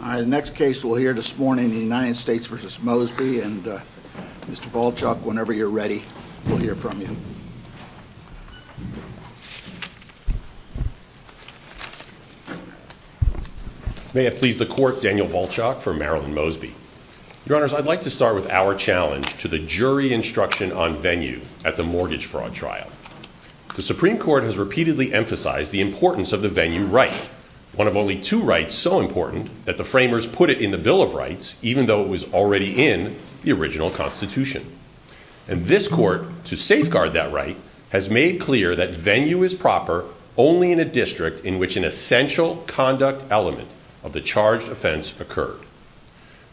The next case we'll hear this morning is the United States v. Mosby, and Mr. Volchok, whenever you're ready, we'll hear from you. May it please the Court, Daniel Volchok for Marilyn Mosby. Your Honors, I'd like to start with our challenge to the jury instruction on venue at the mortgage fraud trial. The Supreme Court has repeatedly emphasized the importance of the venue right, one of only two rights so important that the framers put it in the Bill of Rights, even though it was already in the original Constitution. And this Court, to safeguard that right, has made clear that venue is proper only in a district in which an essential conduct element of the charged offense occurred.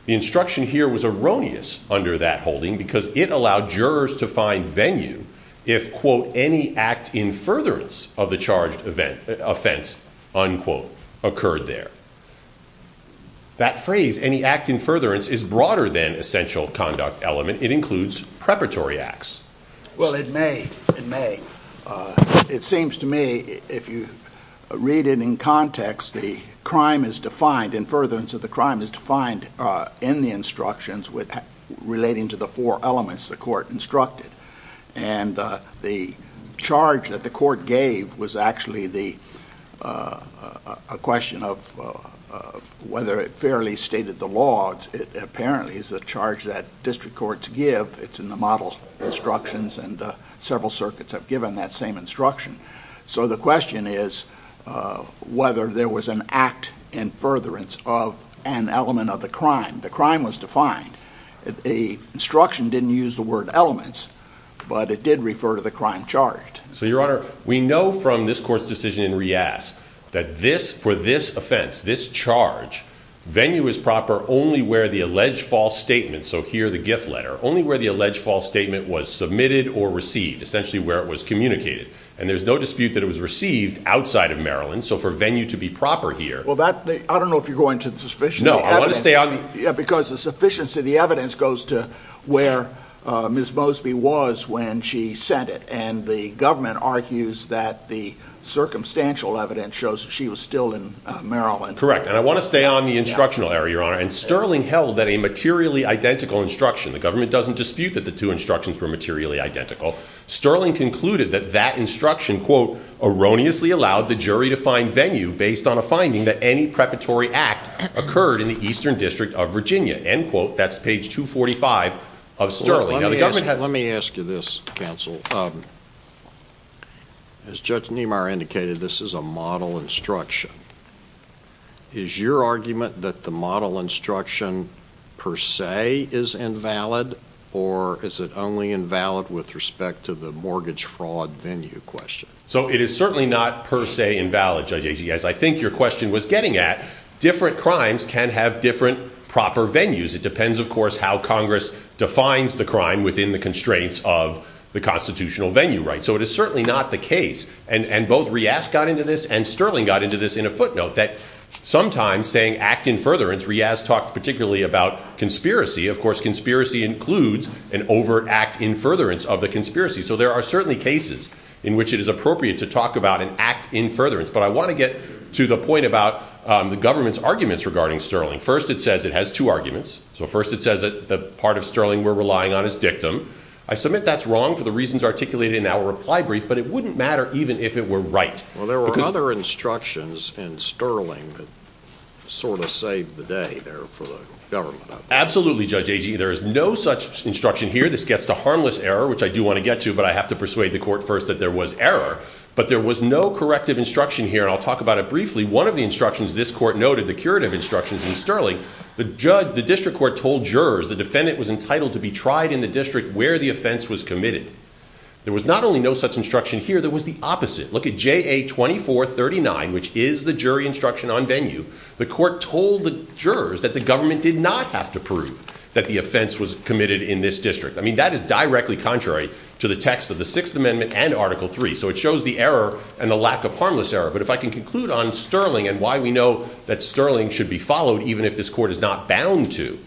The instruction here was erroneous under that holding because it allowed jurors to find venue if, quote, any act in furtherance of the charged offense, unquote, occurred there. That phrase, any act in furtherance, is broader than essential conduct element. It includes preparatory acts. Well, it may, it may. It seems to me, if you read it in context, the crime is defined, in furtherance of the crime, is defined in the instructions relating to the four elements the Court instructed. And the charge that the Court gave was actually a question of whether it fairly stated the law. It apparently is a charge that district courts give. It's in the model instructions and several circuits have given that same instruction. So the question is whether there was an act in furtherance of an element of the crime. The crime was defined. The instruction didn't use the word elements, but it did refer to the crime charged. So, Your Honor, we know from this Court's decision in Reass that this, for this offense, this charge, venue is proper only where the alleged false statement, so here the gift letter, only where the alleged false statement was submitted or received, essentially where it was communicated. And there's no dispute that it was received outside of Maryland, so for venue to be proper here... Well, I don't know if you're going to the sufficiency of the evidence. No, I want to stay on... Yeah, because the sufficiency of the evidence goes to where Ms. Mosby was when she sent it. And the government argues that the circumstantial evidence shows that she was still in Maryland. Correct. And I want to stay on the instructional error, Your Honor. And Sterling held that a materially identical instruction, the government doesn't dispute that the two instructions were materially identical, Sterling concluded that that instruction, quote, erroneously allowed the jury to find venue based on a finding that any preparatory act occurred in the Eastern District of Virginia. End quote. That's page 245 of Sterling. Let me ask you this, counsel. As Judge Niemeyer indicated, this is a model instruction. Is your argument that the model instruction per se is invalid, or is it only invalid with respect to the mortgage fraud venue question? So it is certainly not per se invalid, Judge Agy. As I think your question was getting at, different crimes can have different proper venues. It depends, of course, how Congress defines the crime within the constraints of the constitutional venue, right? So it is certainly not the case, and both Riaz got into this and Sterling got into this in a footnote, that sometimes saying act in furtherance, Riaz talked particularly about conspiracy. Of course, conspiracy includes an overact in furtherance of the conspiracy. So there are certainly cases in which it is appropriate to talk about an act in furtherance. But I want to get to the point about the government's arguments regarding Sterling. First, it says it has two arguments. So first, it says that the part of Sterling we're relying on is dictum. I submit that's wrong for the reasons articulated in our reply brief, but it wouldn't matter even if it were right. Well, there were other instructions in Sterling that sort of saved the day there for the government. Absolutely, Judge Agy. There is no such instruction here. This gets to harmless error, which I do want to get to, but I have to persuade the court first that there was error. But there was no corrective instruction here, and I'll talk about it briefly. One of the instructions this court noted, the curative instructions in Sterling, the district court told jurors the defendant was entitled to be tried in the district where the offense was committed. There was not only no such instruction here, there was the opposite. Look at JA 2439, which is the jury instruction on venue. The court told the jurors that the government did not have to prove that the offense was committed in this district. I mean, that is directly contrary to the text of the Sixth Amendment and Article 3. So it shows the error and the lack of harmless error. But if I can conclude on Sterling and why we know that Sterling should be followed, even if this court is not bound to,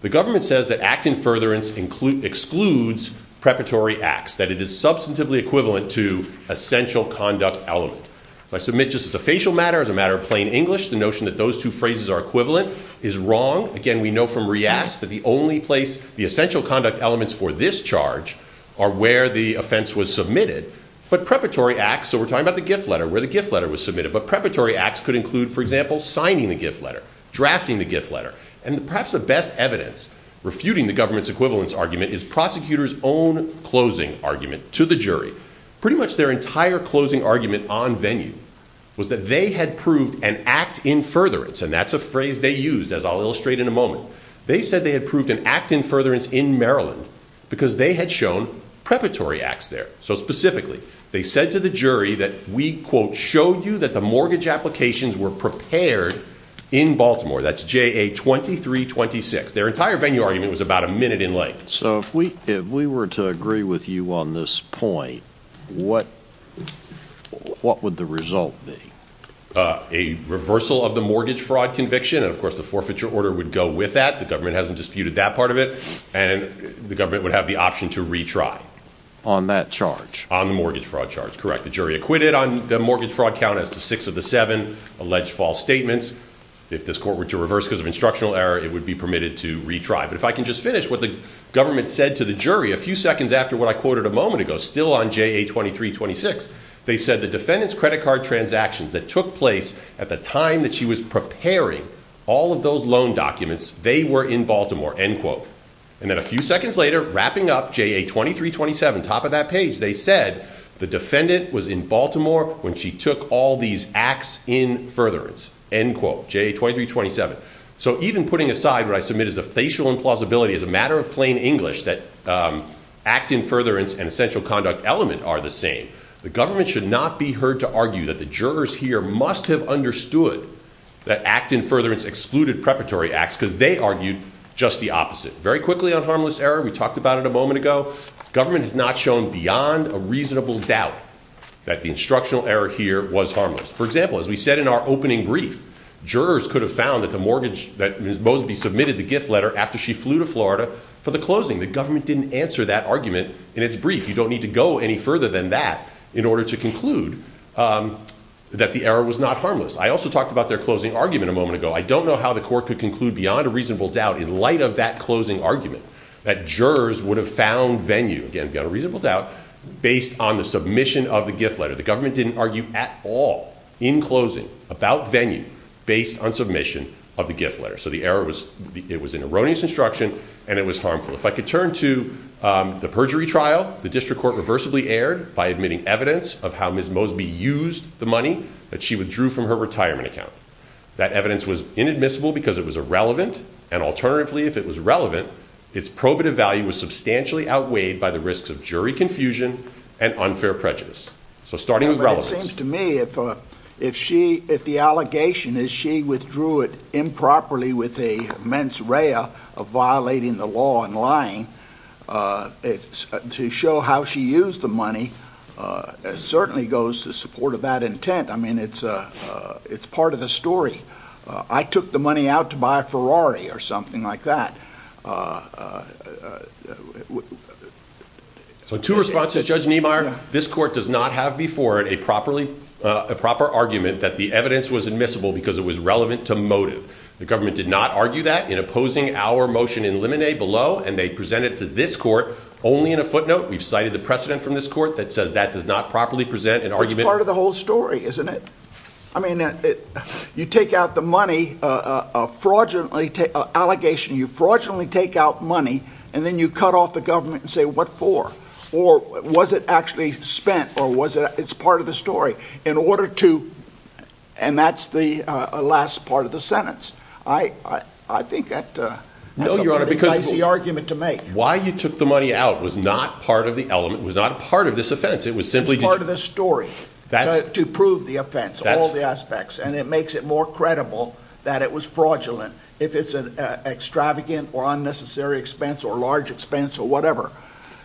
the government says that act in furtherance excludes preparatory acts, that it is substantively equivalent to essential conduct element. If I submit just as a facial matter, as a matter of plain English, the notion that those two phrases are equivalent is wrong. Again, we know from Reass that the only place the essential conduct elements for this charge are where the offense was submitted. But preparatory acts, so we're talking about the gift letter, where the gift letter was submitted. But preparatory acts could include, for example, signing the gift letter, drafting the gift letter. And perhaps the best evidence refuting the government's equivalence argument is prosecutors' own closing argument to the jury. Pretty much their entire closing argument on venue was that they had proved an act in furtherance. And that's a phrase they used, as I'll illustrate in a moment. They said they had proved an act in furtherance in Maryland because they had shown preparatory acts there. So specifically, they said to the jury that we, quote, showed you that the mortgage applications were prepared in Baltimore. That's J.A. 2326. Their entire venue argument was about a minute in length. So if we were to agree with you on this point, what would the result be? A reversal of the mortgage fraud conviction. Of course, the forfeiture order would go with that. The government hasn't disputed that part of it. And the government would have the option to retry. On that charge? On the mortgage fraud charge, correct. The jury acquitted on the mortgage fraud count as to six of the seven alleged false statements. If this court were to reverse because of instructional error, it would be permitted to retry. But if I can just finish what the government said to the jury a few seconds after what I quoted a moment ago, still on J.A. 2326, they said the defendant's credit card transactions that took place at the time that she was preparing all of those loan documents, they were in Baltimore, end quote. And then a few seconds later, wrapping up J.A. 2327, top of that page, they said the defendant was in Baltimore when she took all these acts in furtherance, end quote, J.A. 2327. So even putting aside what I submit as a facial implausibility, as a matter of plain English, that act in furtherance and essential conduct element are the same, the government should not be heard to argue that the jurors here must have understood that act in furtherance excluded preparatory acts because they argued just the opposite. Very quickly on harmless error, we talked about it a moment ago. Government has not shown beyond a reasonable doubt that the instructional error here was harmless. For example, as we said in our opening brief, jurors could have found that the mortgage, that Ms. Mosby submitted the gift letter after she flew to Florida for the closing. The government didn't answer that argument in its brief. You don't need to go any further than that in order to conclude that the error was not harmless. I also talked about their closing argument a moment ago. I don't know how the court could conclude beyond a reasonable doubt in light of that closing argument that jurors would have found venue, again, beyond a reasonable doubt, based on the submission of the gift letter. The government didn't argue at all in closing about venue based on submission of the gift letter. So the error was, it was an erroneous instruction and it was harmful. If I could turn to the perjury trial, the district court reversibly erred by admitting evidence of how Ms. Mosby used the money that she withdrew from her retirement account. That evidence was inadmissible because it was irrelevant, and alternatively, if it was relevant, its probative value was substantially outweighed by the risks of jury confusion and unfair prejudice. So starting with relevance. It seems to me if the allegation is she withdrew it improperly with a mens rea of violating the law and lying, to show how she used the money certainly goes to support of that intent. I mean, it's part of the story. I took the money out to buy a Ferrari or something like that. So two responses, Judge Niemeyer. This court does not have before it a proper argument that the evidence was admissible because it was relevant to motive. The government did not argue that in opposing our motion in Limine below, and they presented it to this court only in a footnote. We've cited the precedent from this court that says that does not properly present an argument. It's part of the whole story, isn't it? I mean, you take out the money, a fraudulently, an allegation, you fraudulently take out money, and then you cut off the government and say what for, or was it actually spent, or was it, it's part of the story. In order to, and that's the last part of the sentence. I think that's a very dicey argument to make. No, Your Honor, because why you took the money out was not part of the element, was not part of this offense. It's part of the story to prove the offense, all the aspects, and it makes it more credible that it was fraudulent. If it's an extravagant or unnecessary expense or large expense or whatever.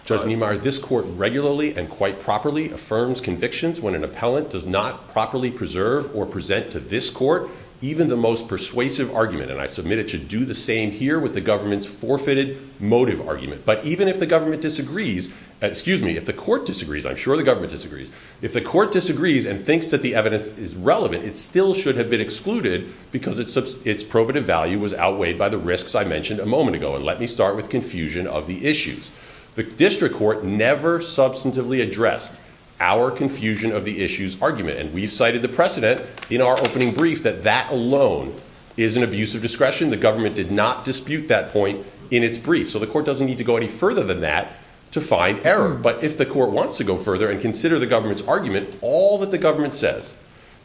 Judge Niemeyer, this court regularly and quite properly affirms convictions when an appellant does not properly preserve or present to this court even the most persuasive argument, and I submit it should do the same here with the government's forfeited motive argument. But even if the government disagrees, excuse me, if the court disagrees, I'm sure the government disagrees, if the court disagrees and thinks that the evidence is relevant, it still should have been excluded because its probative value was outweighed by the risks I mentioned a moment ago. And let me start with confusion of the issues. The district court never substantively addressed our confusion of the issues argument. And we've cited the precedent in our opening brief that that alone is an abuse of discretion. The government did not dispute that point in its brief. So the court doesn't need to go any further than that to find error. But if the court wants to go further and consider the government's argument, all that the government says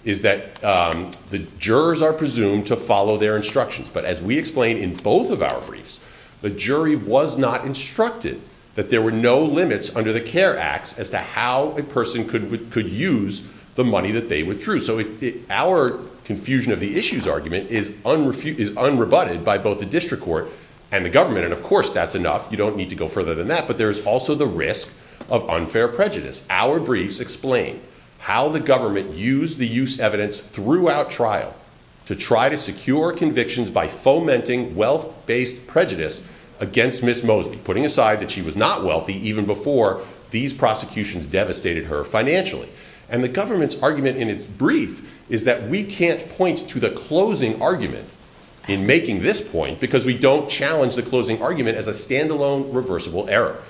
is that the jurors are presumed to follow their instructions. But as we explained in both of our briefs, the jury was not instructed that there were no limits under the CARE Act as to how a person could use the money that they withdrew. So our confusion of the issues argument is unrebutted by both the district court and the government. And, of course, that's enough. You don't need to go further than that. But there's also the risk of unfair prejudice. Our briefs explain how the government used the use evidence throughout trial to try to secure convictions by fomenting wealth-based prejudice against Ms. Mosby, putting aside that she was not wealthy even before these prosecutions devastated her financially. And the government's argument in its brief is that we can't point to the closing argument in making this point because we don't challenge the closing argument as a stand-alone reversible error.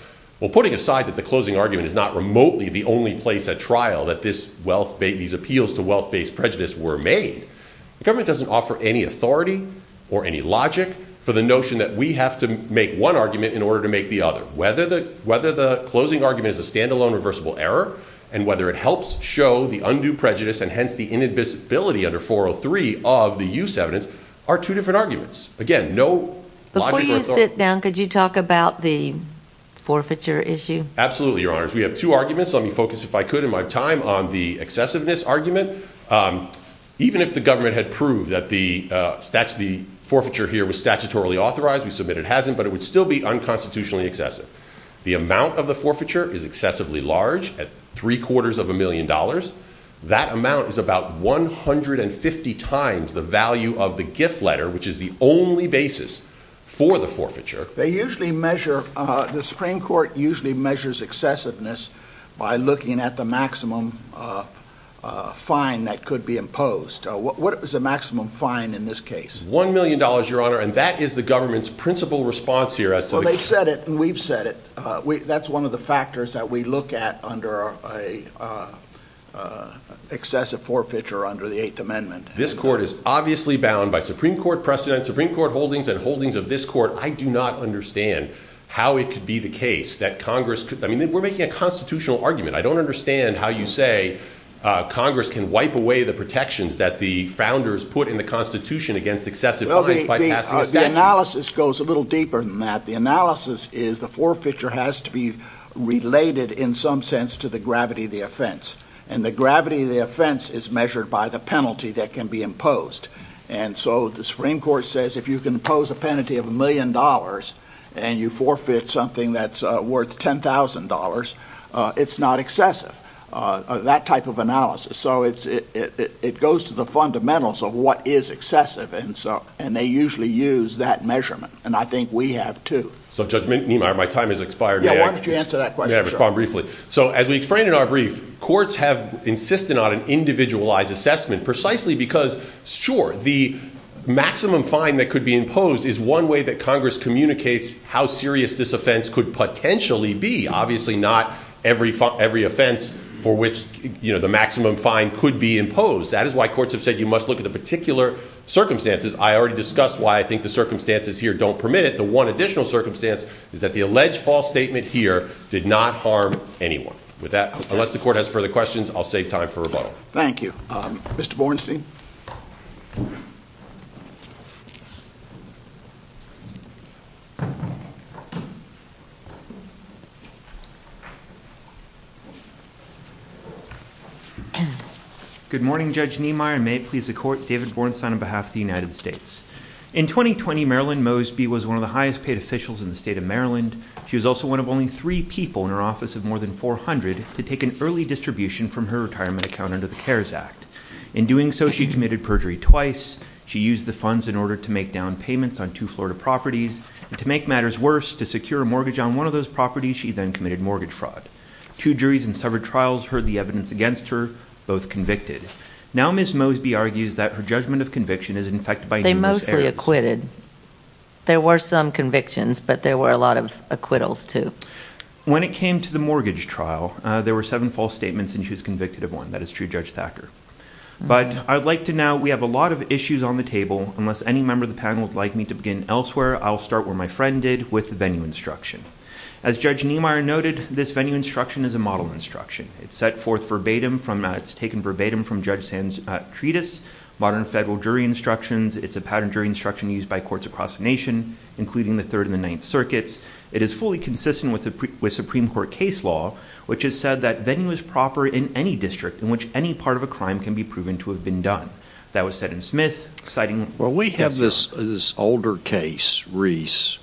Well, putting aside that the closing argument is not remotely the only place at trial that these appeals to wealth-based prejudice were made, the government doesn't offer any authority or any logic for the notion that we have to make one argument in order to make the other. Whether the closing argument is a stand-alone reversible error and whether it helps show the undue prejudice and hence the inadmissibility under 403 of the use evidence are two different arguments. Again, no logic or authority. Before you sit down, could you talk about the forfeiture issue? Absolutely, Your Honors. We have two arguments. Let me focus, if I could, in my time on the excessiveness argument. Even if the government had proved that the forfeiture here was statutorily authorized, we submit it hasn't, but it would still be unconstitutionally excessive. The amount of the forfeiture is excessively large at three-quarters of a million dollars. That amount is about 150 times the value of the gift letter, which is the only basis for the forfeiture. They usually measure, the Supreme Court usually measures excessiveness by looking at the maximum fine that could be imposed. What is the maximum fine in this case? One million dollars, Your Honor, and that is the government's principal response here. Well, they've said it and we've said it. That's one of the factors that we look at under an excessive forfeiture under the Eighth Amendment. This Court is obviously bound by Supreme Court precedent, Supreme Court holdings and holdings of this Court. I do not understand how it could be the case that Congress could, I mean, we're making a constitutional argument. I don't understand how you say Congress can wipe away the protections that the founders put in the Constitution against excessive fines by passing a statute. The analysis goes a little deeper than that. The analysis is the forfeiture has to be related in some sense to the gravity of the offense. And the gravity of the offense is measured by the penalty that can be imposed. And so the Supreme Court says if you can impose a penalty of a million dollars and you forfeit something that's worth $10,000, it's not excessive. That type of analysis. So it goes to the fundamentals of what is excessive, and they usually use that measurement. And I think we have, too. So, Judge Neimeyer, my time has expired. Yeah, why don't you answer that question? Yeah, I'll respond briefly. So as we explained in our brief, courts have insisted on an individualized assessment precisely because, sure, the maximum fine that could be imposed is one way that Congress communicates how serious this offense could potentially be. Obviously not every offense for which the maximum fine could be imposed. That is why courts have said you must look at the particular circumstances. I already discussed why I think the circumstances here don't permit it. The one additional circumstance is that the alleged false statement here did not harm anyone. With that, unless the court has further questions, I'll save time for rebuttal. Thank you. Mr. Bornstein? Good morning, Judge Neimeyer. And may it please the Court, David Bornstein on behalf of the United States. In 2020, Marilyn Mosby was one of the highest paid officials in the state of Maryland. She was also one of only three people in her office of more than 400 to take an early distribution from her retirement account under the CARES Act. In doing so, she committed perjury twice. She used the funds in order to make down payments on two Florida properties. And to make matters worse, to secure a mortgage on one of those properties, she then committed mortgage fraud. Two juries in several trials heard the evidence against her, both convicted. Now Ms. Mosby argues that her judgment of conviction is infected by numerous errors. They mostly acquitted. There were some convictions, but there were a lot of acquittals, too. When it came to the mortgage trial, there were seven false statements, and she was convicted of one. That is true, Judge Thacker. But I'd like to now, we have a lot of issues on the table. Unless any member of the panel would like me to begin elsewhere, I'll start where my friend did with the venue instruction. As Judge Neimeyer noted, this venue instruction is a model instruction. It's set forth verbatim from, it's taken verbatim from Judge Sand's treatise, Modern Federal Jury Instructions. It's a pattern jury instruction used by courts across the nation, including the Third and the Ninth Circuits. It is fully consistent with Supreme Court case law, which has said that venue is proper in any district in which any part of a crime can be proven to have been done. That was said in Smith, citing Ms. Mosby. Well, we have this older case, Reese,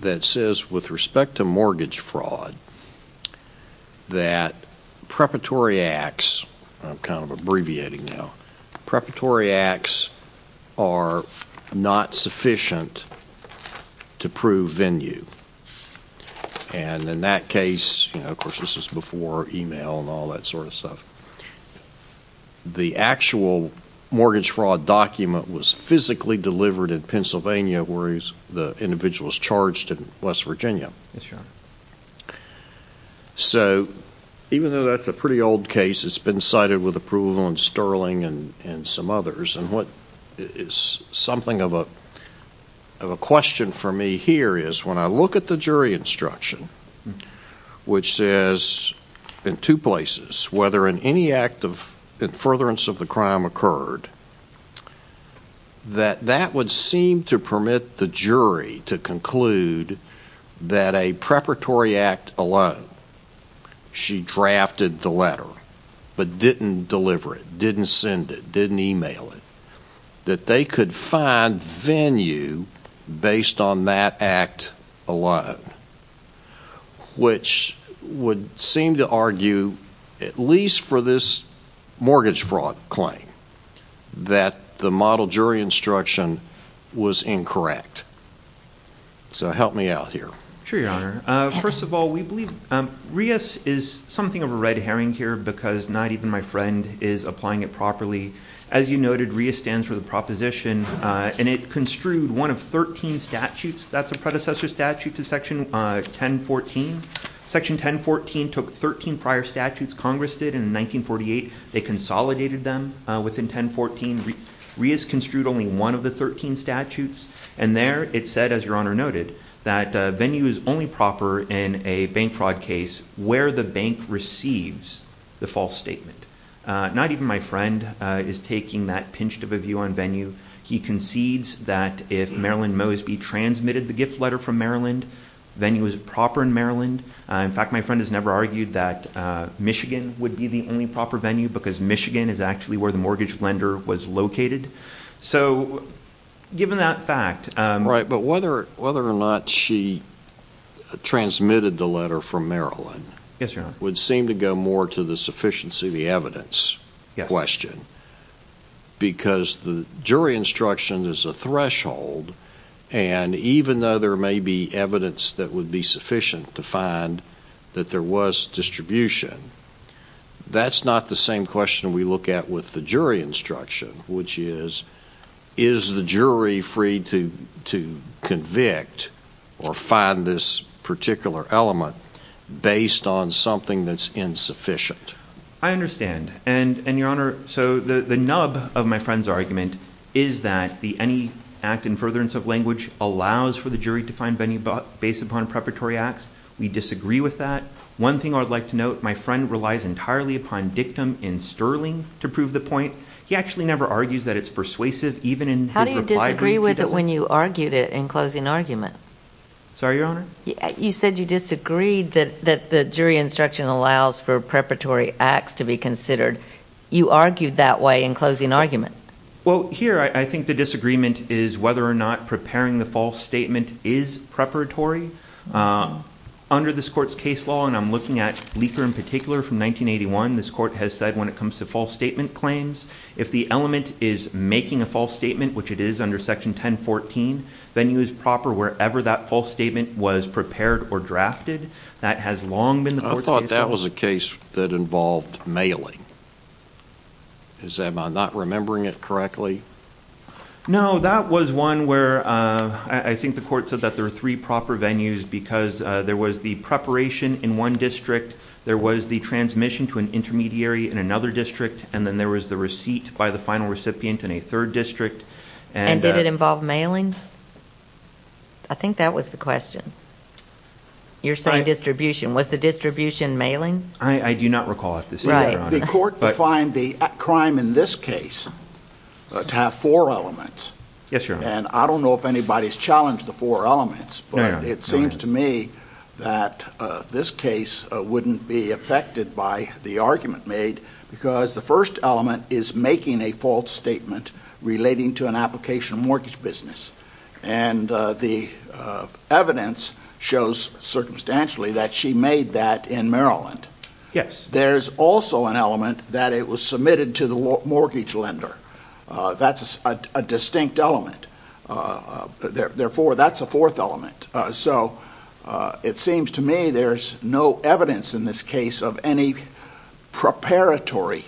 that says with respect to mortgage fraud, that preparatory acts, I'm kind of abbreviating now, preparatory acts are not sufficient to prove venue. And in that case, you know, of course this is before email and all that sort of stuff, the actual mortgage fraud document was physically delivered in Pennsylvania where the individual was charged in West Virginia. Yes, Your Honor. So even though that's a pretty old case, it's been cited with approval in Sterling and some others. And what is something of a question for me here is when I look at the jury instruction, which says in two places, whether in any act of furtherance of the crime occurred, that that would seem to permit the jury to conclude that a preparatory act alone, she drafted the letter but didn't deliver it, didn't send it, didn't email it, that they could find venue based on that act alone, which would seem to argue, at least for this mortgage fraud claim, that the model jury instruction was incorrect. So help me out here. Sure, Your Honor. First of all, we believe Reese is something of a red herring here because not even my friend is applying it properly. As you noted, Reese stands for the proposition, and it construed one of 13 statutes. That's a predecessor statute to Section 1014. Section 1014 took 13 prior statutes. Congress did in 1948. They consolidated them within 1014. Reese construed only one of the 13 statutes, and there it said, as Your Honor noted, that venue is only proper in a bank fraud case where the bank receives the false statement. Not even my friend is taking that pinched of a view on venue. He concedes that if Marilyn Mosby transmitted the gift letter from Maryland, venue is proper in Maryland. In fact, my friend has never argued that Michigan would be the only proper venue because Michigan is actually where the mortgage lender was located. So given that fact. Right, but whether or not she transmitted the letter from Maryland Yes, Your Honor. would seem to go more to the sufficiency of the evidence question because the jury instruction is a threshold, and even though there may be evidence that would be sufficient to find that there was distribution, that's not the same question we look at with the jury instruction, which is, is the jury free to convict or find this particular element based on something that's insufficient? I understand, and Your Honor, so the nub of my friend's argument is that any act in furtherance of language allows for the jury to find venue based upon preparatory acts. We disagree with that. One thing I would like to note, my friend relies entirely upon dictum in Sterling to prove the point. He actually never argues that it's persuasive, even in his reply. I disagree with it when you argued it in closing argument. Sorry, Your Honor? You said you disagreed that the jury instruction allows for preparatory acts to be considered. You argued that way in closing argument. Well, here I think the disagreement is whether or not preparing the false statement is preparatory. Under this court's case law, and I'm looking at Leaker in particular from 1981, this court has said when it comes to false statement claims, if the element is making a false statement, which it is under Section 1014, venue is proper wherever that false statement was prepared or drafted. That has long been the court's case law. I thought that was a case that involved mailing. Am I not remembering it correctly? No, that was one where I think the court said that there are three proper venues because there was the preparation in one district, there was the transmission to an intermediary in another district, and then there was the receipt by the final recipient in a third district. And did it involve mailing? I think that was the question. You're saying distribution. Was the distribution mailing? I do not recall it. The court defined the crime in this case to have four elements. Yes, Your Honor. And I don't know if anybody's challenged the four elements, but it seems to me that this case wouldn't be affected by the argument made because the first element is making a false statement relating to an application mortgage business. And the evidence shows circumstantially that she made that in Maryland. Yes. There's also an element that it was submitted to the mortgage lender. That's a distinct element. Therefore, that's a fourth element. So it seems to me there's no evidence in this case of any preparatory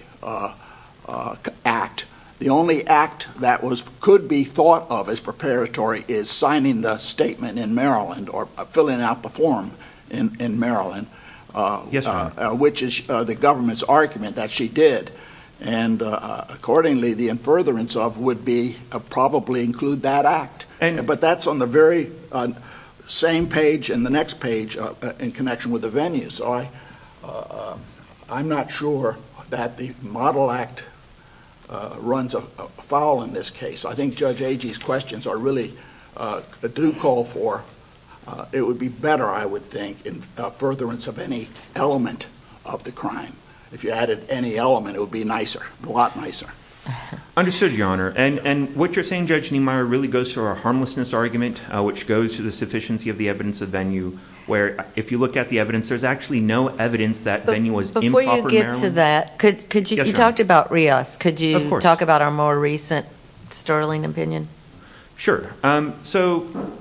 act. The only act that could be thought of as preparatory is signing the statement in Maryland or filling out the form in Maryland. Yes, Your Honor. Which is the government's argument that she did. And accordingly, the in furtherance of would be probably include that act. But that's on the very same page and the next page in connection with the venue. So I'm not sure that the model act runs afoul in this case. I think Judge Agee's questions really do call for it would be better, I would think, in furtherance of any element of the crime. If you added any element, it would be nicer, a lot nicer. Understood, Your Honor. And what you're saying, Judge Niemeyer, really goes to our harmlessness argument, which goes to the sufficiency of the evidence of venue, where if you look at the evidence, there's actually no evidence that venue was improper in Maryland. Before you get to that, you talked about Rios. Could you talk about our more recent Sterling opinion? Sure. So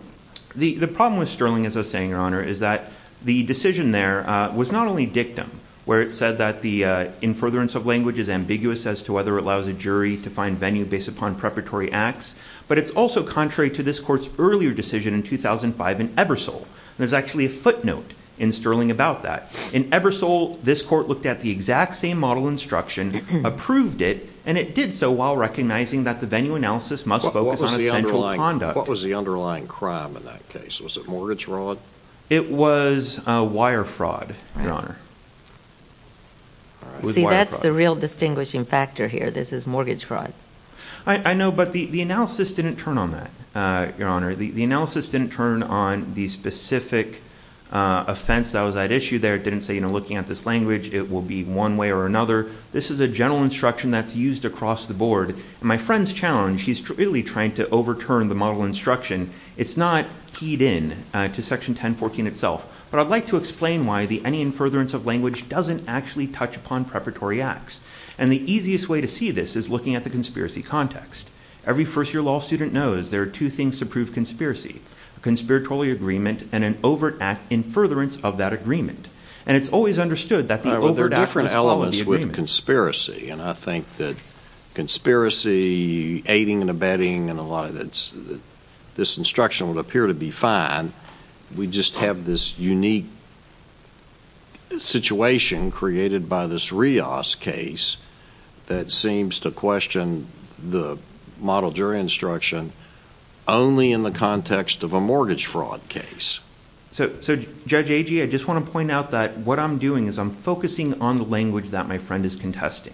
the problem with Sterling, as I was saying, Your Honor, is that the decision there was not only dictum, where it said that the in furtherance of language is ambiguous as to whether it allows a jury to find venue based upon preparatory acts, but it's also contrary to this court's earlier decision in 2005 in Ebersole. There's actually a footnote in Sterling about that. In Ebersole, this court looked at the exact same model instruction, approved it, and it did so while recognizing that the venue analysis must focus on essential conduct. What was the underlying crime in that case? Was it mortgage fraud? It was wire fraud, Your Honor. See, that's the real distinguishing factor here. This is mortgage fraud. I know, but the analysis didn't turn on that, Your Honor. The analysis didn't turn on the specific offense that was at issue there. It didn't say, you know, looking at this language, it will be one way or another. This is a general instruction that's used across the board. My friend's challenged. He's really trying to overturn the model instruction. It's not keyed in to Section 1014 itself. But I'd like to explain why the any in furtherance of language doesn't actually touch upon preparatory acts. And the easiest way to see this is looking at the conspiracy context. Every first-year law student knows there are two things to prove conspiracy, a conspiratorial agreement and an overt act in furtherance of that agreement. And it's always understood that the overt act is part of the agreement. There are different elements with conspiracy, and I think that conspiracy, aiding and abetting, and a lot of this instruction would appear to be fine. We just have this unique situation created by this Rios case that seems to question the model jury instruction only in the context of a mortgage fraud case. So, Judge Agee, I just want to point out that what I'm doing is I'm focusing on the language that my friend is contesting,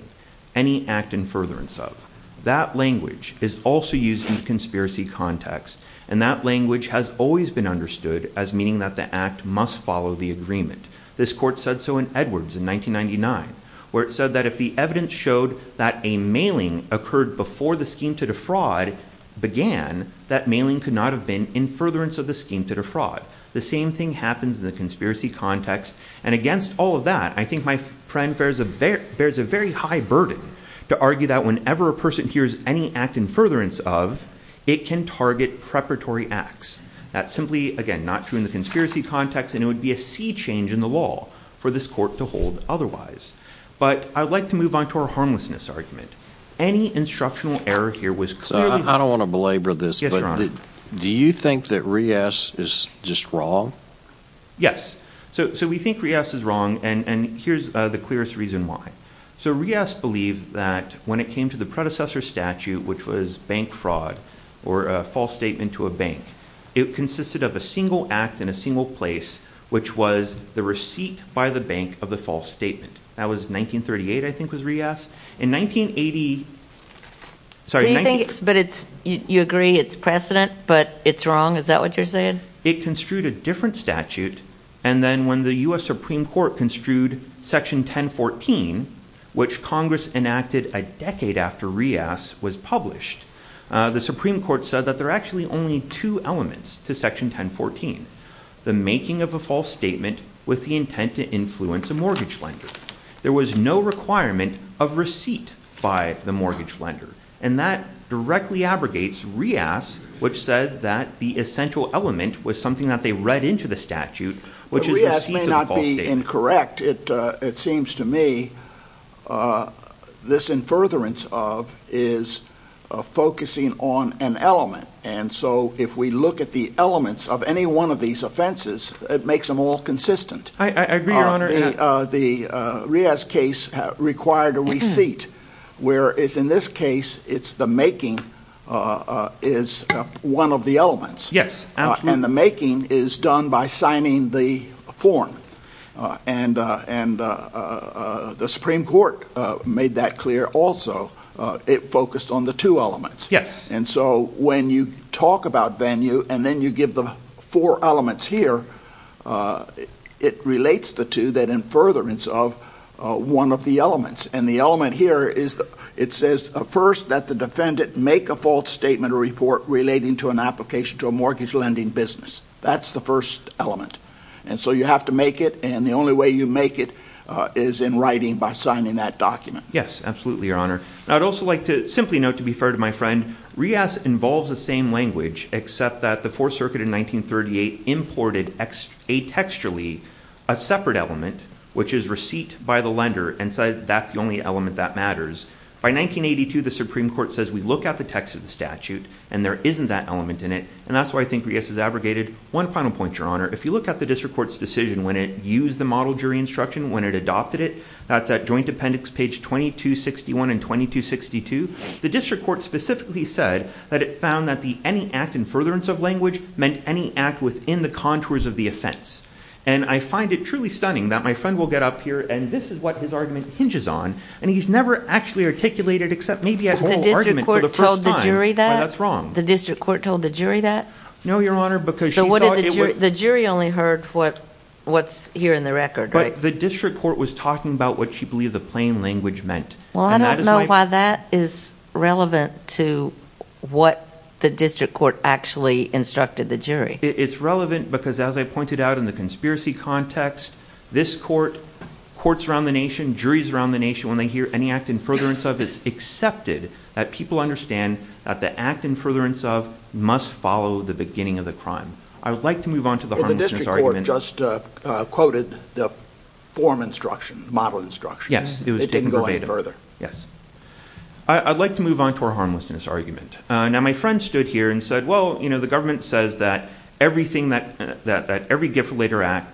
any act in furtherance of. That language is also used in conspiracy context, and that language has always been understood as meaning that the act must follow the agreement. This court said so in Edwards in 1999, where it said that if the evidence showed that a mailing occurred before the scheme to defraud began, that mailing could not have been in furtherance of the scheme to defraud. The same thing happens in the conspiracy context, and against all of that, I think my friend bears a very high burden to argue that whenever a person hears any act in furtherance of, it can target preparatory acts. That's simply, again, not true in the conspiracy context, and it would be a sea change in the law for this court to hold otherwise. But I'd like to move on to our harmlessness argument. Any instructional error here was clearly... I don't want to belabor this, but do you think that Rios is just wrong? Yes. So we think Rios is wrong, and here's the clearest reason why. So Rios believed that when it came to the predecessor statute, which was bank fraud or a false statement to a bank, it consisted of a single act in a single place, which was the receipt by the bank of the false statement. That was 1938, I think, was Rios. In 1980... So you think it's... but it's... you agree it's precedent, but it's wrong? Is that what you're saying? And then it construed a different statute, and then when the U.S. Supreme Court construed Section 1014, which Congress enacted a decade after Rios was published, the Supreme Court said that there are actually only two elements to Section 1014, the making of a false statement with the intent to influence a mortgage lender. There was no requirement of receipt by the mortgage lender, and that directly abrogates Rios, which said that the essential element was something that they read into the statute, which is the receipt of the false statement. Rios may not be incorrect. It seems to me this in furtherance of is focusing on an element, and so if we look at the elements of any one of these offenses, it makes them all consistent. I agree, Your Honor. The Rios case required a receipt, whereas in this case it's the making is one of the elements. Yes. And the making is done by signing the form, and the Supreme Court made that clear also. It focused on the two elements. Yes. And so when you talk about venue and then you give the four elements here, it relates the two that in furtherance of one of the elements, and the element here is it says first that the defendant make a false statement or report relating to an application to a mortgage lending business. That's the first element. And so you have to make it, and the only way you make it is in writing by signing that document. Yes, absolutely, Your Honor. I'd also like to simply note, to be fair to my friend, Rios involves the same language, except that the Fourth Circuit in 1938 imported a textually a separate element, which is receipt by the lender and said that's the only element that matters. By 1982, the Supreme Court says we look at the text of the statute and there isn't that element in it, and that's why I think Rios is abrogated. One final point, Your Honor. If you look at the district court's decision when it used the model jury instruction, when it adopted it, that's at Joint Appendix page 2261 and 2262, the district court specifically said that it found that any act in furtherance of language meant any act within the contours of the offense. And I find it truly stunning that my friend will get up here, and this is what his argument hinges on, and he's never actually articulated it except maybe as a whole argument for the first time. That's wrong. The district court told the jury that? No, Your Honor, because she thought it would. So the jury only heard what's here in the record, right? But the district court was talking about what she believed the plain language meant. Well, I don't know why that is relevant to what the district court actually instructed the jury. It's relevant because as I pointed out in the conspiracy context, this court, courts around the nation, juries around the nation, when they hear any act in furtherance of, it's accepted that people understand that the act in furtherance of must follow the beginning of the crime. I would like to move on to the harmlessness argument. Well, the district court just quoted the form instruction, model instruction. Yes, it was taken verbatim. It didn't go any further. Yes. I'd like to move on to our harmlessness argument. Now, my friend stood here and said, well, you know, the government says that everything, that every gift letter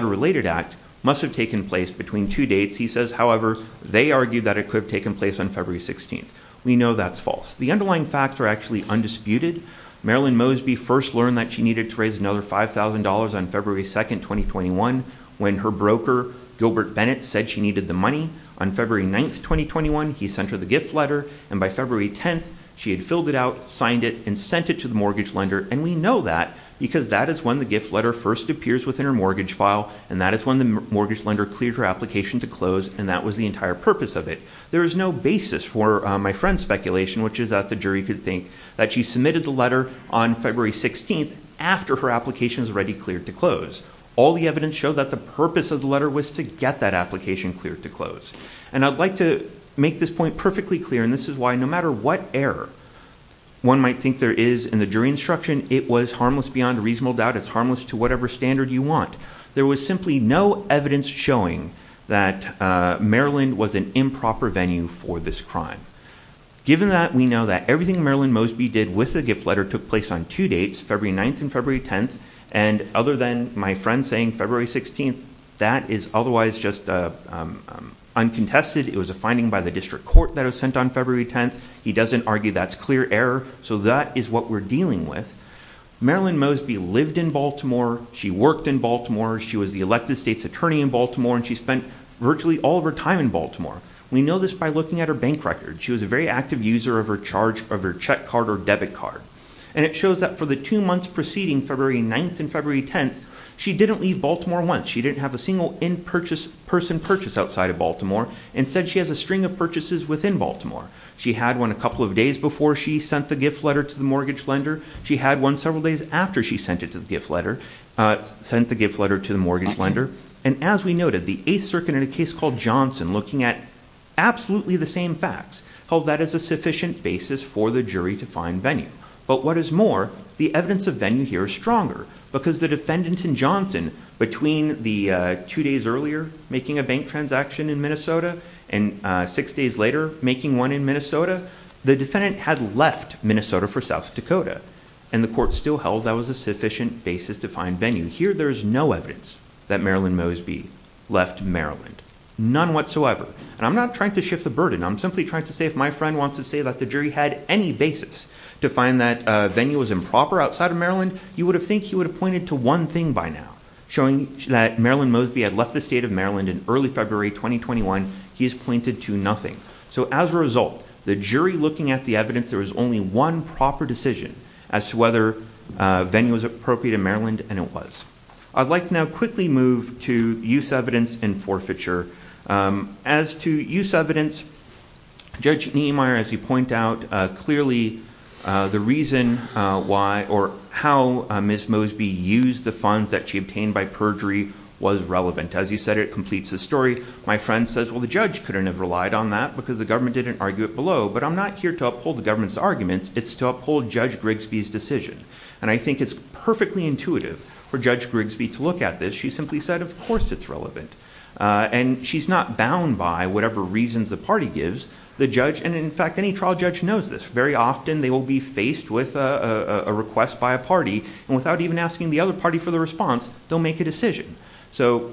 related act must have taken place between two dates. He says, however, they argued that it could have taken place on February 16th. We know that's false. The underlying facts are actually undisputed. Marilyn Mosby first learned that she needed to raise another $5,000 on February 2nd, 2021, when her broker, Gilbert Bennett, said she needed the money. On February 9th, 2021, he sent her the gift letter, and by February 10th, she had filled it out, signed it, and sent it to the mortgage lender. And we know that because that is when the gift letter first appears within her mortgage file, and that is when the mortgage lender cleared her application to close, and that was the entire purpose of it. There is no basis for my friend's speculation, which is that the jury could think that she submitted the letter on February 16th after her application was already cleared to close. All the evidence showed that the purpose of the letter was to get that application cleared to close. And I'd like to make this point perfectly clear, and this is why no matter what error one might think there is in the jury instruction, it was harmless beyond a reasonable doubt. It's harmless to whatever standard you want. There was simply no evidence showing that Maryland was an improper venue for this crime. Given that, we know that everything Marilyn Mosby did with the gift letter took place on two dates, February 9th and February 10th, and other than my friend saying February 16th, that is otherwise just uncontested. It was a finding by the district court that was sent on February 10th. He doesn't argue that's clear error. So that is what we're dealing with. Marilyn Mosby lived in Baltimore. She worked in Baltimore. She was the elected state's attorney in Baltimore, and she spent virtually all of her time in Baltimore. We know this by looking at her bank record. She was a very active user of her check card or debit card. And it shows that for the two months preceding February 9th and February 10th, she didn't leave Baltimore once. She didn't have a single in-person purchase outside of Baltimore. Instead, she has a string of purchases within Baltimore. She had one a couple of days before she sent the gift letter to the mortgage lender. She had one several days after she sent the gift letter to the mortgage lender. And as we noted, the 8th Circuit in a case called Johnson, looking at absolutely the same facts, held that as a sufficient basis for the jury to find venue. But what is more, the evidence of venue here is stronger because the defendant in Johnson, between the two days earlier making a bank transaction in Minnesota and six days later making one in Minnesota, the defendant had left Minnesota for South Dakota, and the court still held that was a sufficient basis to find venue. Here there is no evidence that Marilyn Mosby left Maryland, none whatsoever. And I'm not trying to shift the burden. I'm simply trying to say if my friend wants to say that the jury had any basis to find that venue was improper outside of Maryland, you would think he would have pointed to one thing by now, showing that Marilyn Mosby had left the state of Maryland in early February 2021. He has pointed to nothing. So as a result, the jury looking at the evidence, there was only one proper decision as to whether venue was appropriate in Maryland, and it was. I'd like to now quickly move to use evidence and forfeiture. As to use evidence, Judge Niemeyer, as you point out, clearly the reason why or how Ms. Mosby used the funds that she obtained by perjury was relevant. As you said, it completes the story. My friend says, well, the judge couldn't have relied on that because the government didn't argue it below. But I'm not here to uphold the government's arguments. It's to uphold Judge Grigsby's decision. And I think it's perfectly intuitive for Judge Grigsby to look at this. She simply said, of course it's relevant. And she's not bound by whatever reasons the party gives the judge. And in fact, any trial judge knows this. Very often they will be faced with a request by a party. And without even asking the other party for the response, they'll make a decision. So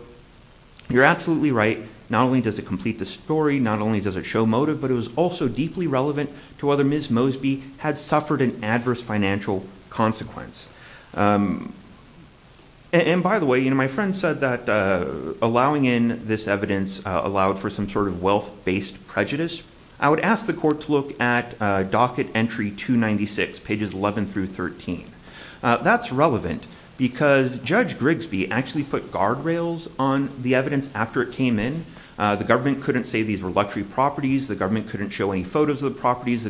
you're absolutely right. Not only does it complete the story, not only does it show motive, but it was also deeply relevant to whether Ms. Mosby had suffered an adverse financial consequence. And by the way, my friend said that allowing in this evidence allowed for some sort of wealth-based prejudice. I would ask the court to look at Docket Entry 296, pages 11 through 13. That's relevant because Judge Grigsby actually put guardrails on the evidence after it came in. The government couldn't say these were luxury properties. The government couldn't show any photos of the properties. The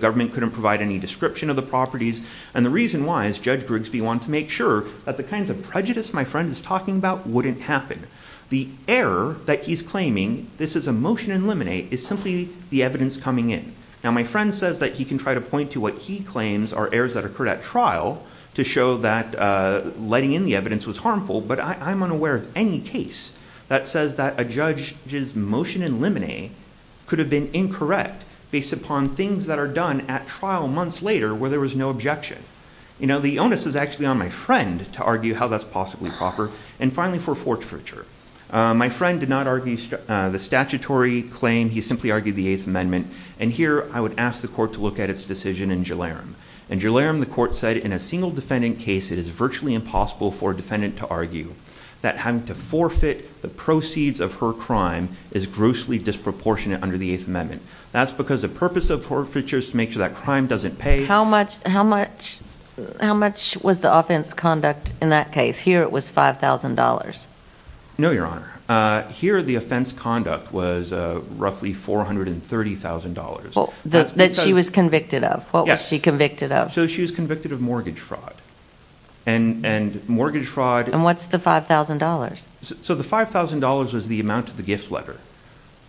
government couldn't provide any description of the properties. And the reason why is Judge Grigsby wanted to make sure that the kinds of prejudice my friend is talking about wouldn't happen. The error that he's claiming this is a motion in limine is simply the evidence coming in. Now my friend says that he can try to point to what he claims are errors that occurred at trial to show that letting in the evidence was harmful. But I'm unaware of any case that says that a judge's motion in limine could have been incorrect based upon things that are done at trial months later where there was no objection. You know, the onus is actually on my friend to argue how that's possibly proper. And finally, for fortfurture, my friend did not argue the statutory claim. He simply argued the Eighth Amendment. And here I would ask the court to look at its decision in Gilliarum. In Gilliarum, the court said in a single defendant case, it is virtually impossible for a defendant to argue that having to forfeit the proceeds of her crime is grossly disproportionate under the Eighth Amendment. That's because the purpose of forfeiture is to make sure that crime doesn't pay. How much was the offense conduct in that case? Here it was $5,000. No, Your Honor. Here the offense conduct was roughly $430,000. That she was convicted of. What was she convicted of? So she was convicted of mortgage fraud. And what's the $5,000? So the $5,000 was the amount of the gift letter.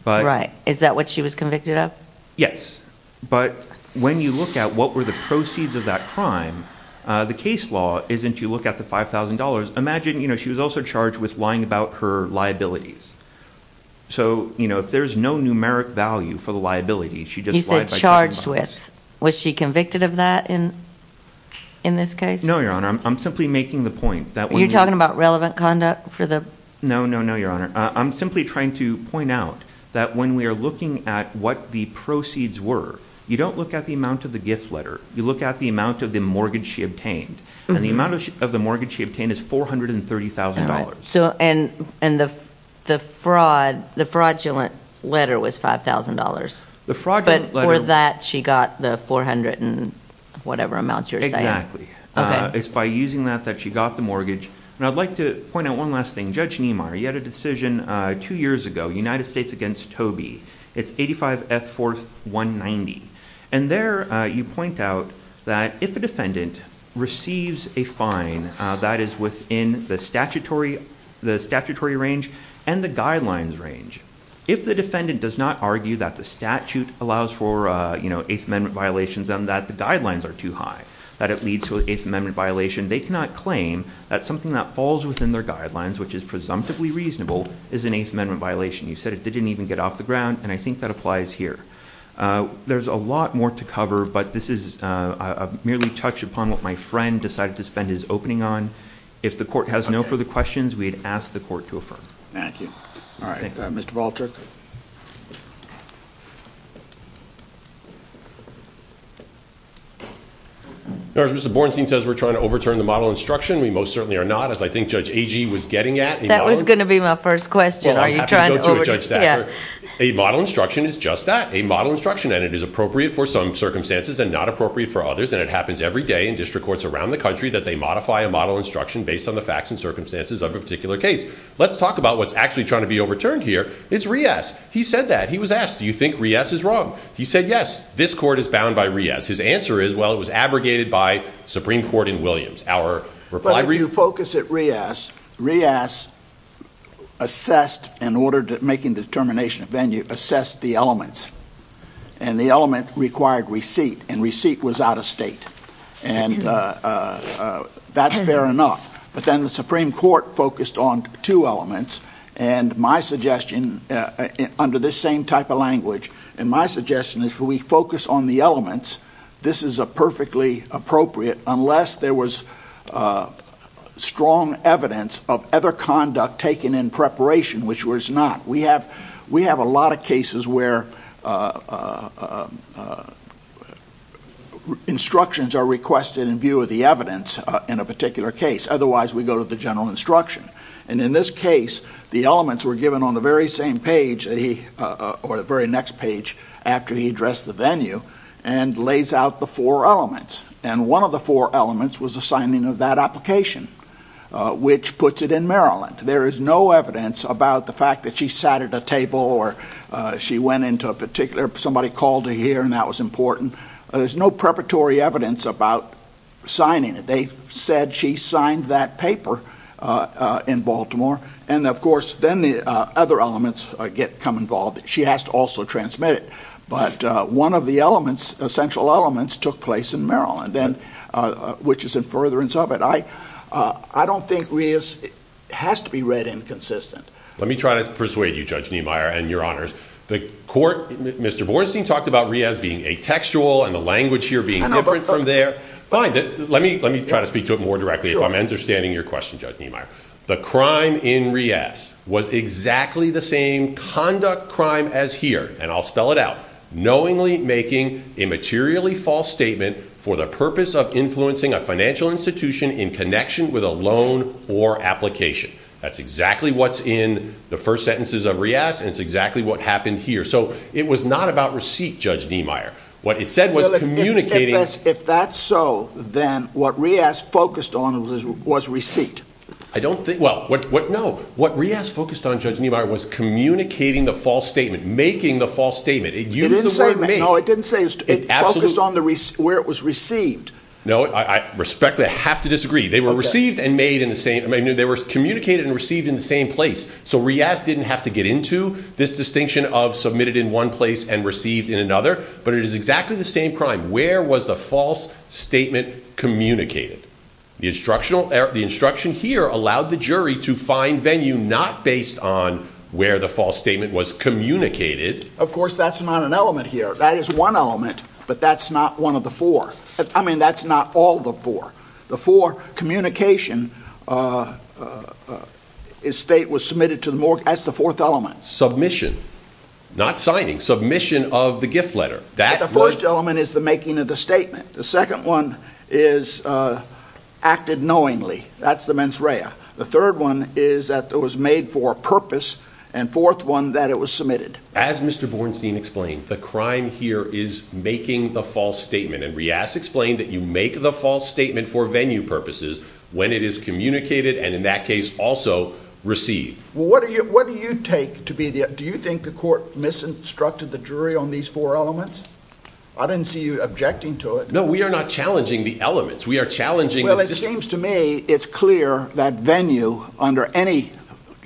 Right. Is that what she was convicted of? Yes. But when you look at what were the proceeds of that crime, the case law isn't you look at the $5,000. Imagine, you know, she was also charged with lying about her liabilities. So, you know, if there's no numeric value for the liability, she just lied by taking the money. You said charged with. Was she convicted of that in this case? No, Your Honor. I'm simply making the point. You're talking about relevant conduct for the? No, no, no, Your Honor. I'm simply trying to point out that when we are looking at what the proceeds were, you don't look at the amount of the gift letter. You look at the amount of the mortgage she obtained. And the amount of the mortgage she obtained is $430,000. So and the fraud, the fraudulent letter was $5,000. The fraudulent letter. But for that she got the 400 and whatever amount you're saying. Exactly. It's by using that that she got the mortgage. And I'd like to point out one last thing. Judge Niemeyer, you had a decision two years ago, United States against Toby. It's 85 F. 4th 190. And there you point out that if a defendant receives a fine that is within the statutory range and the guidelines range, if the defendant does not argue that the statute allows for, you know, Eighth Amendment violations and that the guidelines are too high, that it leads to an Eighth Amendment violation, they cannot claim that something that falls within their guidelines, which is presumptively reasonable, is an Eighth Amendment violation. You said it didn't even get off the ground. And I think that applies here. There's a lot more to cover. But this is merely touch upon what my friend decided to spend his opening on. If the court has no further questions, we'd ask the court to affirm. Thank you. All right. Mr. Baldrick. As Mr. Borenstein says, we're trying to overturn the model instruction. We most certainly are not, as I think Judge Agee was getting at. That was going to be my first question. Are you trying to go to a judge? Yeah. A model instruction is just that, a model instruction. And it is appropriate for some circumstances and not appropriate for others. And it happens every day in district courts around the country that they modify a model instruction based on the facts and circumstances of a particular case. Let's talk about what's actually trying to be overturned here. It's Riaz. He said that. He was asked, do you think Riaz is wrong? He said, yes. This court is bound by Riaz. His answer is, well, it was abrogated by the Supreme Court in Williams. But if you focus at Riaz, Riaz assessed, in order to make a determination of venue, assessed the elements. And the element required receipt. And receipt was out of state. And that's fair enough. But then the Supreme Court focused on two elements. And my suggestion, under this same type of language, and my suggestion is if we focus on the elements, this is a perfectly appropriate unless there was strong evidence of other conduct taken in preparation, which was not. We have a lot of cases where instructions are requested in view of the evidence in a particular case. Otherwise, we go to the general instruction. And in this case, the elements were given on the very same page or the very next page after he addressed the venue and lays out the four elements. And one of the four elements was the signing of that application, which puts it in Maryland. There is no evidence about the fact that she sat at a table or she went into a particular, somebody called her here and that was important. There's no preparatory evidence about signing it. They said she signed that paper in Baltimore. And, of course, then the other elements come involved. She has to also transmit it. But one of the elements, essential elements, took place in Maryland, which is in furtherance of it. I don't think Riaz has to be read inconsistent. Let me try to persuade you, Judge Niemeyer, and your honors. The court, Mr. Bornstein, talked about Riaz being atextual and the language here being different from there. Let me try to speak to it more directly if I'm understanding your question, Judge Niemeyer. The crime in Riaz was exactly the same conduct crime as here, and I'll spell it out, knowingly making a materially false statement for the purpose of influencing a financial institution in connection with a loan or application. That's exactly what's in the first sentences of Riaz and it's exactly what happened here. So it was not about receipt, Judge Niemeyer. What it said was communicating. If that's so, then what Riaz focused on was receipt. I don't think—well, no. What Riaz focused on, Judge Niemeyer, was communicating the false statement, making the false statement. It used the word make. No, it didn't say it focused on where it was received. No, I respectfully have to disagree. They were received and made in the same—I mean, they were communicated and received in the same place. So Riaz didn't have to get into this distinction of submitted in one place and received in another. But it is exactly the same crime. Where was the false statement communicated? The instruction here allowed the jury to find venue not based on where the false statement was communicated. Of course, that's not an element here. That is one element, but that's not one of the four. I mean, that's not all the four. The four—communication—state was submitted to the—that's the fourth element. Submission. Not signing. Submission of the gift letter. The first element is the making of the statement. The second one is acted knowingly. That's the mens rea. The third one is that it was made for a purpose. And fourth one, that it was submitted. As Mr. Bornstein explained, the crime here is making the false statement. And Riaz explained that you make the false statement for venue purposes when it is communicated and, in that case, also received. What do you take to be the—do you think the court misinstructed the jury on these four elements? I didn't see you objecting to it. No, we are not challenging the elements. We are challenging— Well, it seems to me it's clear that venue, under any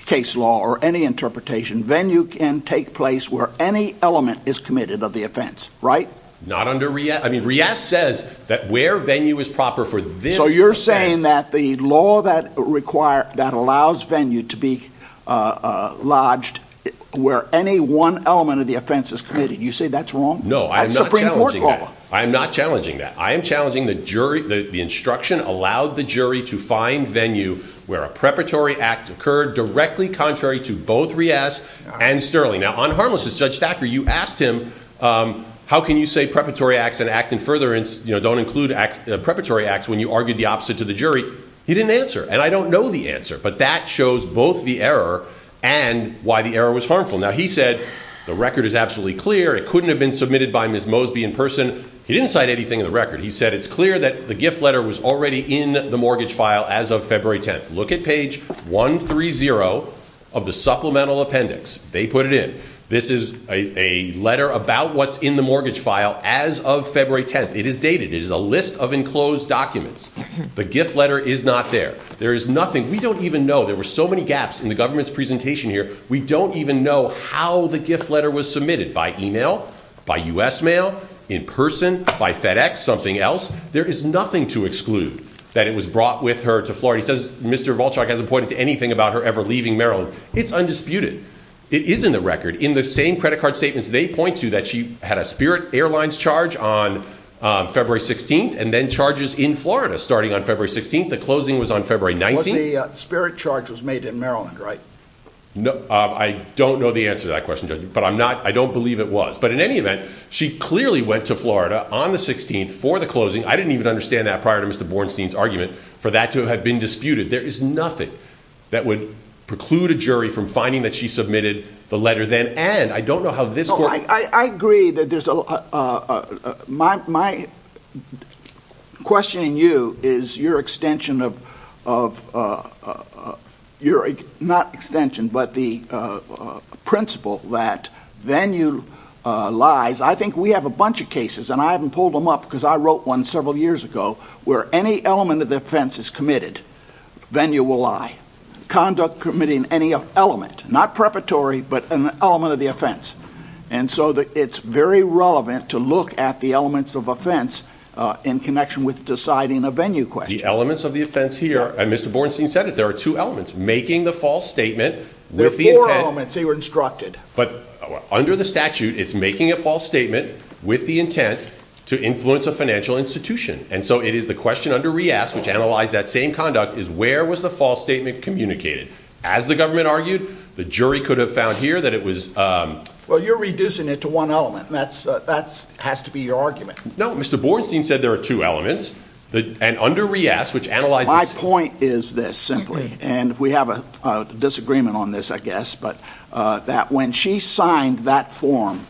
case law or any interpretation, venue can take place where any element is committed of the offense. Right? Not under Riaz. I mean, Riaz says that where venue is proper for this offense— So you're saying that the law that requires—that allows venue to be lodged where any one element of the offense is committed. You say that's wrong? No, I'm not challenging that. Supreme Court law. I'm not challenging that. I am challenging the jury—the instruction allowed the jury to find venue where a preparatory act occurred directly contrary to both Riaz and Sterling. Now, on harmlessness, Judge Stacker, you asked him, how can you say preparatory acts and act in furtherance, you know, don't include preparatory acts when you argued the opposite to the jury. He didn't answer. And I don't know the answer. But that shows both the error and why the error was harmful. Now, he said the record is absolutely clear. It couldn't have been submitted by Ms. Mosby in person. He didn't cite anything in the record. He said it's clear that the gift letter was already in the mortgage file as of February 10th. Look at page 130 of the supplemental appendix. They put it in. This is a letter about what's in the mortgage file as of February 10th. It is dated. It is a list of enclosed documents. The gift letter is not there. There is nothing. We don't even know. There were so many gaps in the government's presentation here. We don't even know how the gift letter was submitted, by e-mail, by U.S. mail, in person, by FedEx, something else. There is nothing to exclude that it was brought with her to Florida. He says Mr. Volchak hasn't pointed to anything about her ever leaving Maryland. It's undisputed. It is in the record. In the same credit card statements they point to that she had a Spirit Airlines charge on February 16th and then charges in Florida starting on February 16th. The closing was on February 19th. The Spirit charge was made in Maryland, right? I don't know the answer to that question, Judge, but I don't believe it was. But in any event, she clearly went to Florida on the 16th for the closing. I didn't even understand that prior to Mr. Bornstein's argument for that to have been disputed. There is nothing that would preclude a jury from finding that she submitted the letter then. I agree. My question to you is your extension of the principle that venue lies. I think we have a bunch of cases, and I haven't pulled them up because I wrote one several years ago, where any element of defense is committed, venue will lie. Conduct committing any element, not preparatory, but an element of the offense. And so it's very relevant to look at the elements of offense in connection with deciding a venue question. The elements of the offense here, and Mr. Bornstein said it, there are two elements, making the false statement with the intent. There are four elements. They were instructed. But under the statute, it's making a false statement with the intent to influence a financial institution. And so it is the question under Reass, which analyzed that same conduct, is where was the false statement communicated? As the government argued, the jury could have found here that it was... Well, you're reducing it to one element. That has to be your argument. No, Mr. Bornstein said there are two elements, and under Reass, which analyzes... My point is this, simply, and we have a disagreement on this, I guess, but that when she signed that form,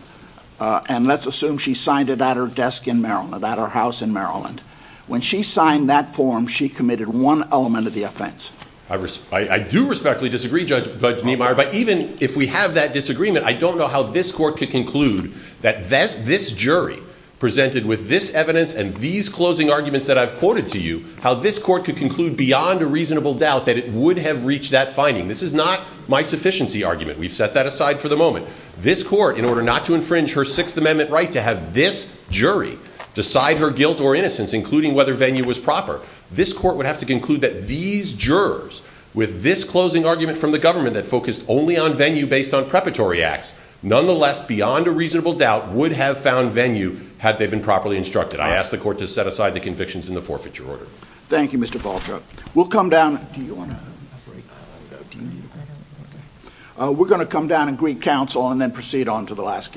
and let's assume she signed it at her desk in Maryland, at her house in Maryland, when she signed that form, she committed one element of the offense. I do respectfully disagree, Judge Niemeyer, but even if we have that disagreement, I don't know how this court could conclude that this jury presented with this evidence and these closing arguments that I've quoted to you, how this court could conclude beyond a reasonable doubt that it would have reached that finding. This is not my sufficiency argument. We've set that aside for the moment. This court, in order not to infringe her Sixth Amendment right to have this jury decide her guilt or innocence, including whether Venue was proper, this court would have to conclude that these jurors, with this closing argument from the government that focused only on Venue based on preparatory acts, nonetheless, beyond a reasonable doubt, would have found Venue had they been properly instructed. I ask the court to set aside the convictions in the forfeiture order. Thank you, Mr. Baltrug. We'll come down... Do you want a break? We're going to come down and greet counsel and then proceed on to the last case.